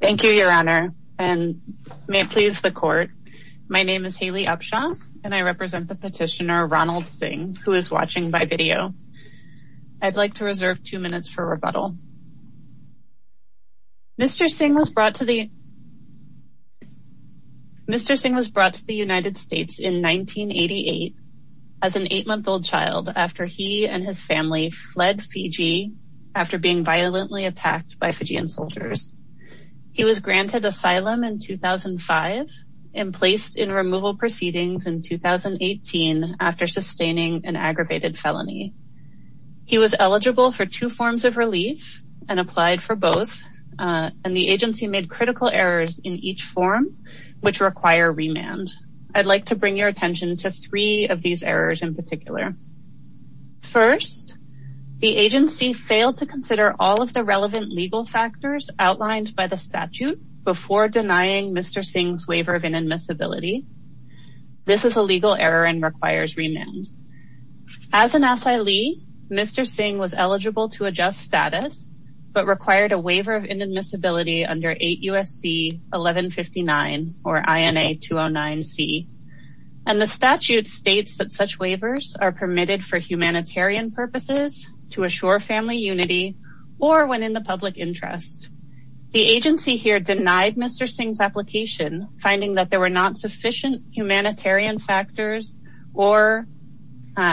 Thank you your honor and may it please the court. My name is Haley Upshaw and I represent the petitioner Ronald Singh who is watching by video. I'd like to reserve two minutes for rebuttal. Mr. Singh was brought to the United States in 1988 as an eight-month-old child after he and he was granted asylum in 2005 and placed in removal proceedings in 2018 after sustaining an aggravated felony. He was eligible for two forms of relief and applied for both and the agency made critical errors in each form which require remand. I'd like to bring your attention to three of these errors in particular. First, the agency failed to consider all of the relevant legal factors outlined by the statute before denying Mr. Singh's waiver of inadmissibility. This is a legal error and requires remand. As an asylee, Mr. Singh was eligible to adjust status but required a waiver of inadmissibility under 8 U.S.C. 1159 or INA 209C and the statute states that such waivers are permitted for humanitarian purposes to assure family unity or when in the interest. The agency here denied Mr. Singh's application finding that there were not sufficient humanitarian factors or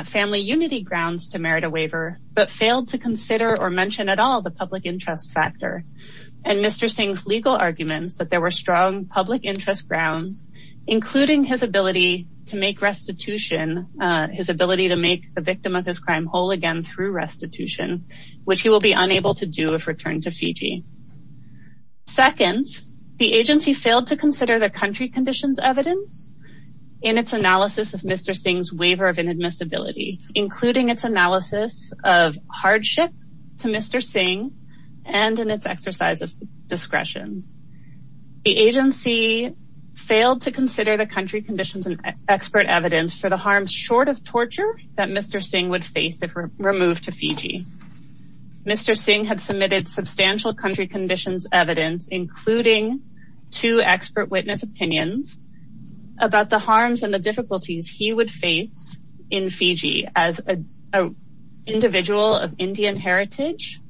family unity grounds to merit a waiver but failed to consider or mention at all the public interest factor and Mr. Singh's legal arguments that there were strong public interest grounds including his ability to make restitution, his ability to make the victim of return to Fiji. Second, the agency failed to consider the country conditions evidence in its analysis of Mr. Singh's waiver of inadmissibility including its analysis of hardship to Mr. Singh and in its exercise of discretion. The agency failed to consider the country conditions and expert evidence for the harms short of torture that Mr. Singh would substantial country conditions evidence including two expert witness opinions about the harms and the difficulties he would face in Fiji as a individual of Indian heritage,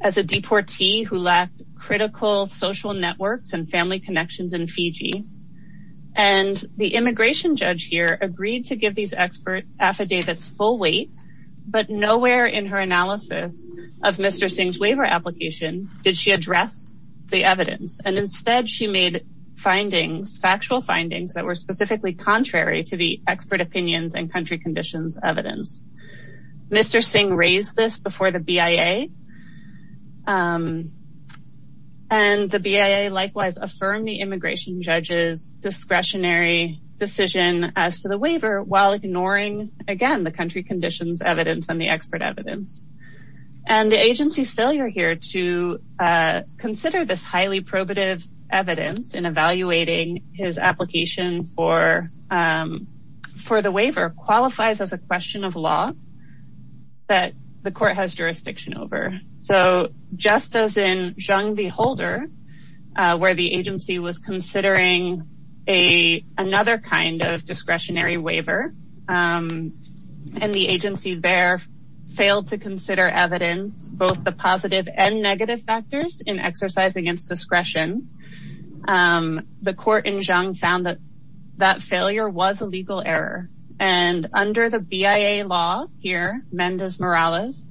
as a deportee who lacked critical social networks and family connections in Fiji and the immigration judge here agreed to give these expert affidavits full weight but nowhere in her analysis of Mr. Singh's application did she address the evidence and instead she made findings, factual findings, that were specifically contrary to the expert opinions and country conditions evidence. Mr. Singh raised this before the BIA and the BIA likewise affirmed the immigration judge's discretionary decision as to the waiver while ignoring again the country conditions evidence and the expert evidence and the agency's failure here to consider this highly probative evidence in evaluating his application for the waiver qualifies as a question of law that the court has jurisdiction over. So just as in Zhang the Holder where the agency was considering a another kind of discretionary waiver and the agency there failed to consider evidence both the positive and negative factors in exercise against discretion. The court in Zhang found that that failure was a legal error and under the BIA law here Mendes Morales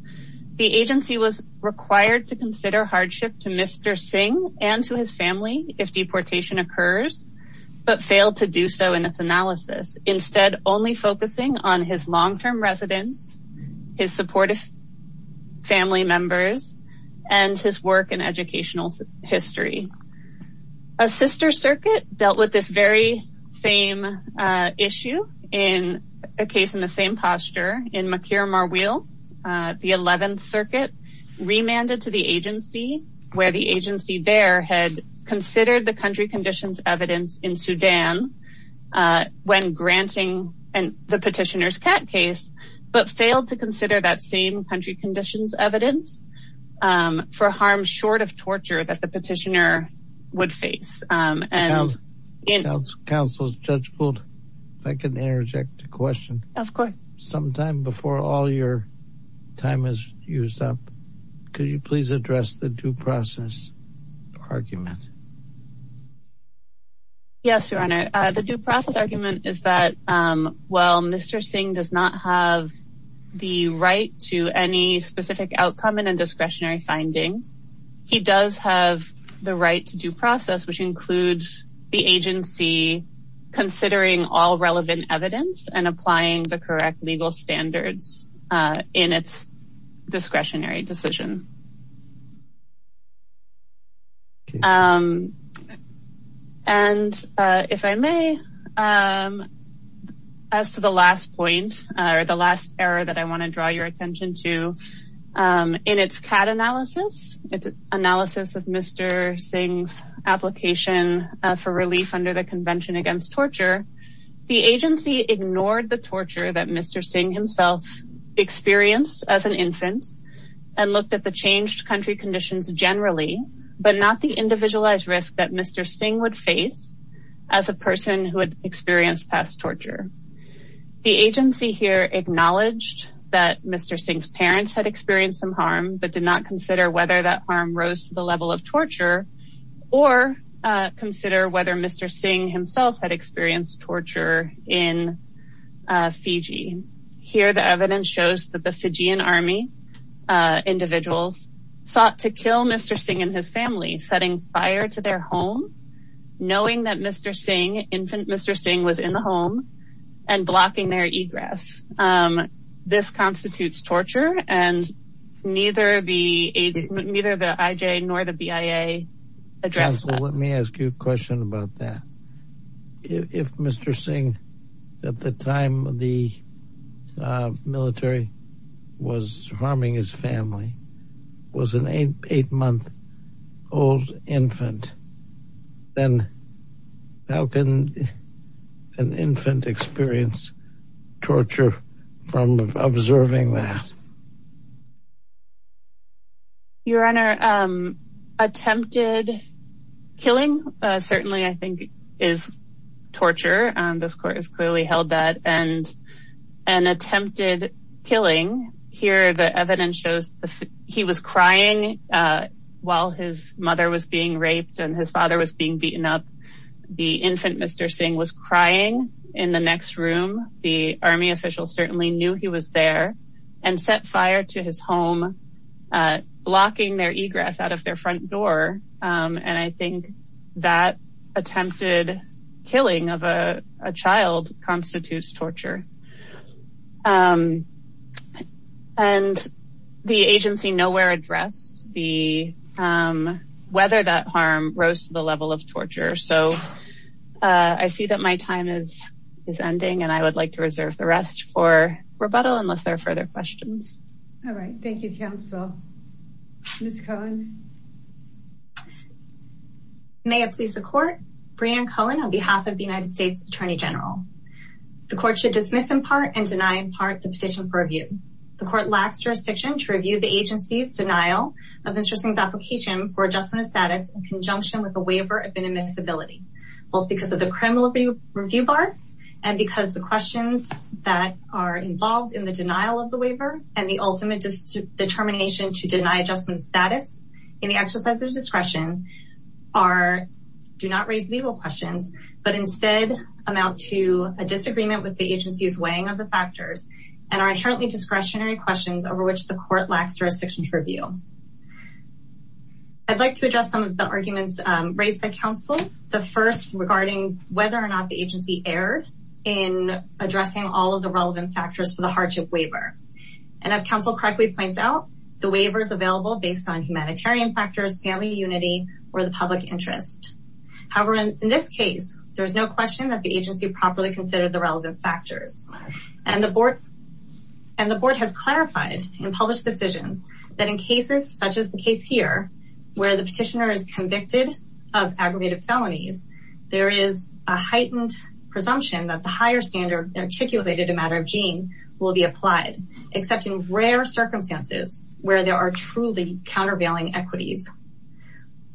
the agency was required to consider hardship to Mr. Singh and to his family if deportation occurs but failed to do so in its analysis instead only focusing on his long-term residence, his supportive family members, and his work in educational history. A sister circuit dealt with this very same issue in a case in the same posture in Makir Marwil the 11th circuit remanded to the agency where the agency there had considered the country conditions evidence in Sudan when granting and the petitioner's cat case but failed to consider that same country conditions evidence for harm short of torture that the petitioner would face. And in counsel's judgment if I can interject a question of course sometime before all your time is used up could you please address the due process argument? Yes your honor the due process argument is that while Mr. Singh does not have the right to any specific outcome in a discretionary finding he does have the right to due process which includes the agency considering all relevant evidence and applying the correct legal standards in its discretionary decision. And if I may as to the last point or the last error that I want to draw your attention to in its cat analysis its analysis of Mr. Singh's application for relief under the convention against torture the agency ignored the torture that Mr. Singh himself experienced as an infant and looked at the changed country conditions generally but not the individualized risk that Mr. Singh would face as a person who had experienced past torture. The agency here acknowledged that Mr. Singh's parents had experienced some harm but did not consider that harm rose to the level of torture or consider whether Mr. Singh himself had experienced torture in Fiji. Here the evidence shows that the Fijian army individuals sought to kill Mr. Singh and his family setting fire to their home knowing that Mr. Singh infant Mr. Singh was in the neither the IJ nor the BIA address. Let me ask you a question about that if Mr. Singh at the time the military was harming his family was an eight month old infant then how can an infant experience torture from observing that? Your honor attempted killing certainly I think is torture and this court has clearly held that and an attempted killing here the evidence shows he was crying while his mother was being raped and his father was being beaten up the infant Mr. Singh was crying in the next room the army officials certainly knew he was there and set fire to his home blocking their egress out of their front door and I think that attempted killing of a child constitutes torture and the agency nowhere addressed the whether that harm rose to the level of torture so I see that my time is is ending and I would like to reserve the rest for rebuttal unless there are further questions. All right thank you counsel. Ms. Cohen. May it please the court Breanne Cohen on behalf of the United States Attorney General the court should dismiss in part and deny in part the petition for review. The court lacks jurisdiction to review the agency's denial of Mr. Singh's application for adjustment of status in conjunction with a waiver of inadmissibility both because of the criminal review bar and because the questions that are involved in the denial of the waiver and the ultimate determination to deny adjustment status in the exercise of discretion are do not raise legal questions but instead amount to a disagreement with the agency's weighing of the factors and are inherently discretionary questions over which the court lacks jurisdiction to review. I'd like to address some of the arguments raised by counsel the first regarding whether or not the agency erred in addressing all of the relevant factors for the hardship waiver and as counsel correctly points out the waiver is available based on humanitarian factors family unity or the public interest however in this case there's no question that the agency properly considered the relevant factors and the board and the board has clarified in published decisions that in cases such as the here where the petitioner is convicted of aggravated felonies there is a heightened presumption that the higher standard articulated a matter of gene will be applied except in rare circumstances where there are truly countervailing equities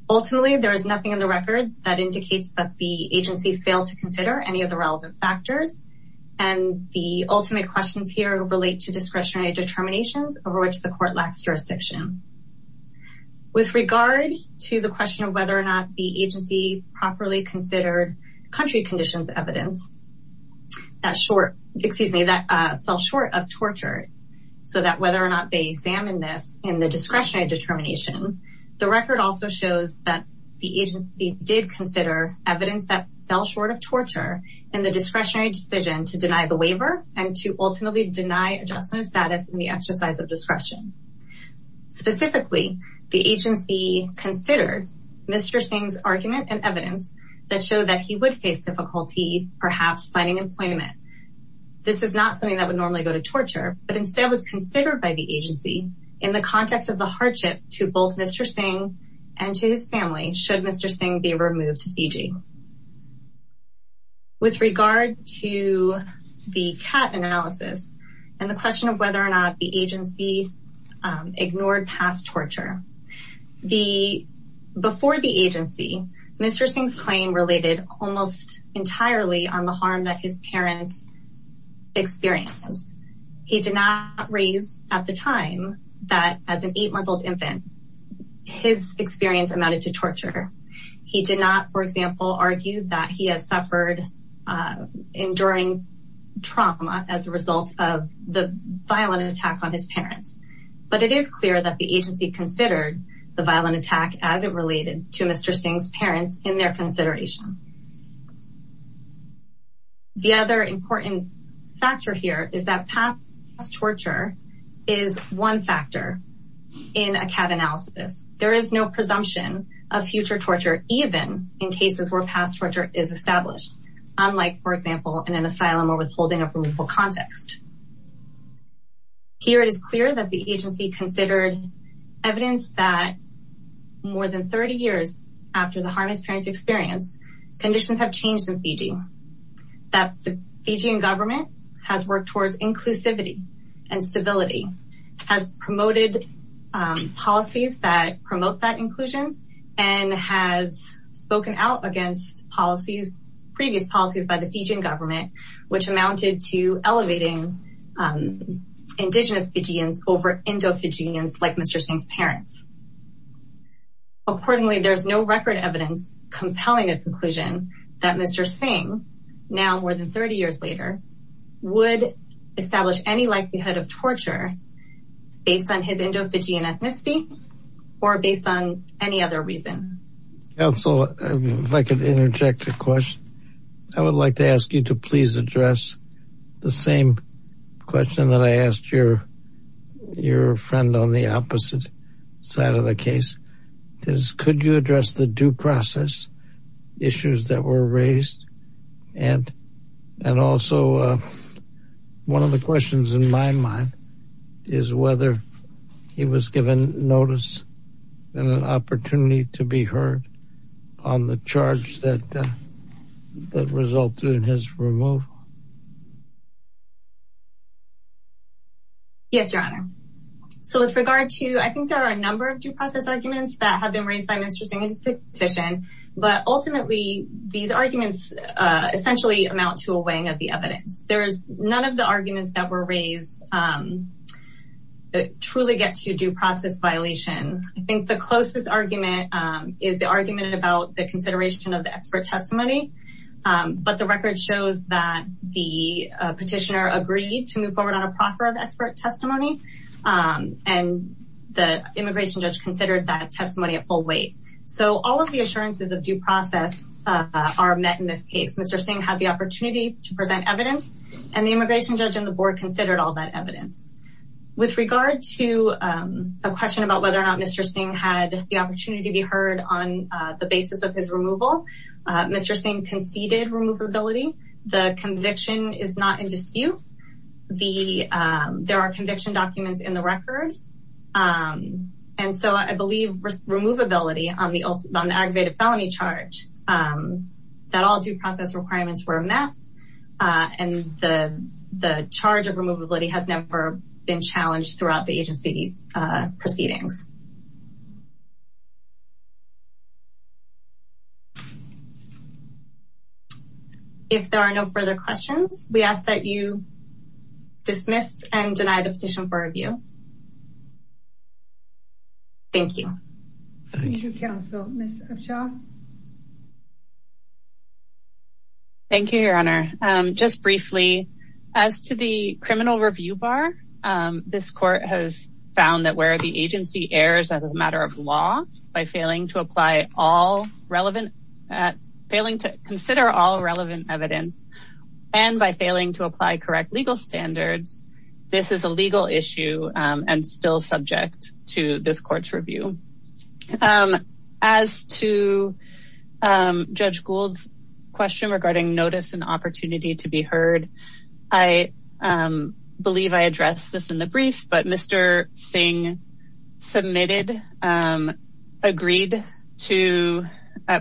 ultimately there is nothing in the record that indicates that the agency failed to consider any of the relevant factors and the ultimate questions here relate to discretionary determinations over which the court lacks jurisdiction with regard to the question of whether or not the agency properly considered country conditions evidence that short excuse me that fell short of torture so that whether or not they examine this in the discretionary determination the record also shows that the agency did consider evidence that fell short of torture in the discretionary decision to deny the waiver and to ultimately deny adjustment of status in the exercise of discretion specifically the agency considered mr sing's argument and evidence that showed that he would face difficulty perhaps finding employment this is not something that would normally go to torture but instead was considered by the agency in the context of the hardship to both mr sing and to his family should mr sing be removed to fiji with regard to the cat analysis and the question of whether or not the agency ignored past torture the before the agency mr sing's claim related almost entirely on the harm that his parents experienced he did not raise at the time that as an eight month old infant his experience amounted to torture he did not for example argue that he has suffered enduring trauma as a result of the violent attack on his parents but it is clear that the agency considered the violent attack as it related to mr sing's parents in their consideration um the other important factor here is that past torture is one factor in a cat analysis there is no presumption of future torture even in cases where past torture is established unlike for example in an asylum or withholding of removal context here it is clear that the agency considered evidence that more than 30 years after the harness parents experience conditions have changed in fiji that the fijian government has worked towards inclusivity and stability has promoted um policies that promote that inclusion and has spoken out against policies previous policies by the fijian government which amounted to elevating um indigenous fijians over endo-fijians like mr sing's parents accordingly there's no record evidence compelling a conclusion that mr sing now more than 30 years later would establish any likelihood of torture based on his endo-fijian ethnicity or based on any other reason council if i could interject a question i would like to ask you to please address the same question that i asked your your friend on the opposite side of the case is could you address the due process issues that were raised and and also uh one of the questions in my mind is whether he was given notice and an opportunity to be heard on the charge that that resulted in his removal yes your honor so with regard to i think there are a number of due process arguments that have been raised by mr sing's petition but ultimately these arguments uh essentially amount to a weighing of the evidence there's none of the arguments that were raised um that truly get to due process violation i think the closest argument um is the argument about the consideration of the expert testimony um but the record shows that the petitioner agreed to move forward on a proper expert testimony um and the immigration judge considered that testimony at full weight so all of the assurances of due process uh are met in this case mr sing had the opportunity to present evidence and the immigration judge and the board considered all that evidence with regard to um a question about whether or not mr sing had the opportunity to be heard on uh the basis of his there are conviction documents in the record um and so i believe removability on the on the aggravated felony charge um that all due process requirements were met uh and the the charge of removability has never been challenged throughout the agency uh proceedings if there are no further questions we ask that you dismiss and deny the petition for review thank you thank you counsel thank you your honor um just briefly as to the criminal review bar um this court has found that the agency errs as a matter of law by failing to apply all relevant at failing to consider all relevant evidence and by failing to apply correct legal standards this is a legal issue um and still subject to this court's review um as to um judge gould's question regarding notice and opportunity to be heard i um believe i addressed this in the brief but mr sing submitted um agreed to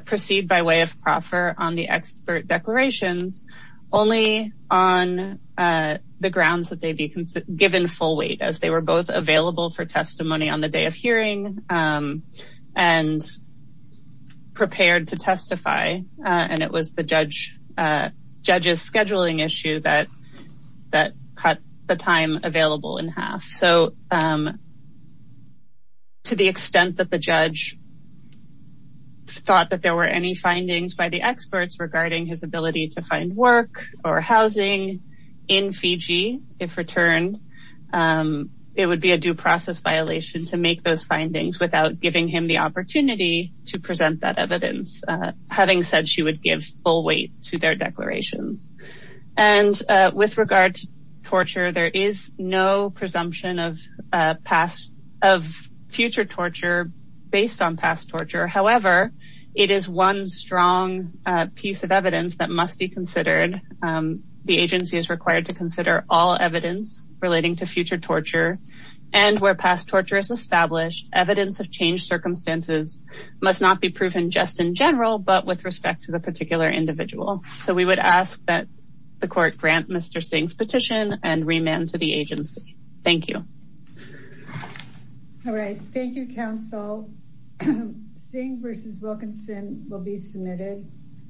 proceed by way of proffer on the expert declarations only on uh the grounds that they'd be given full weight as they were both available for testimony on the day of hearing um and prepared to testify uh and it was the judge uh judge's scheduling issue that that cut the time available in half so um to the extent that the judge thought that there were any findings by the experts regarding his ability to find work or housing in fiji if returned um it would be a due process violation to make those findings without giving him the opportunity to present that evidence uh having said she would give full weight to their declarations and uh with regard to torture there is no presumption of past of future torture based on past torture however it is one strong uh piece of evidence that must be considered um the agency is required to consider all evidence relating to future torture and where past torture is established evidence of changed circumstances must not be proven just in general but with respect to the particular individual so we would ask that the court grant mr sing's petition and remand to the agency thank you all right thank you council sing versus wilkinson will be submitted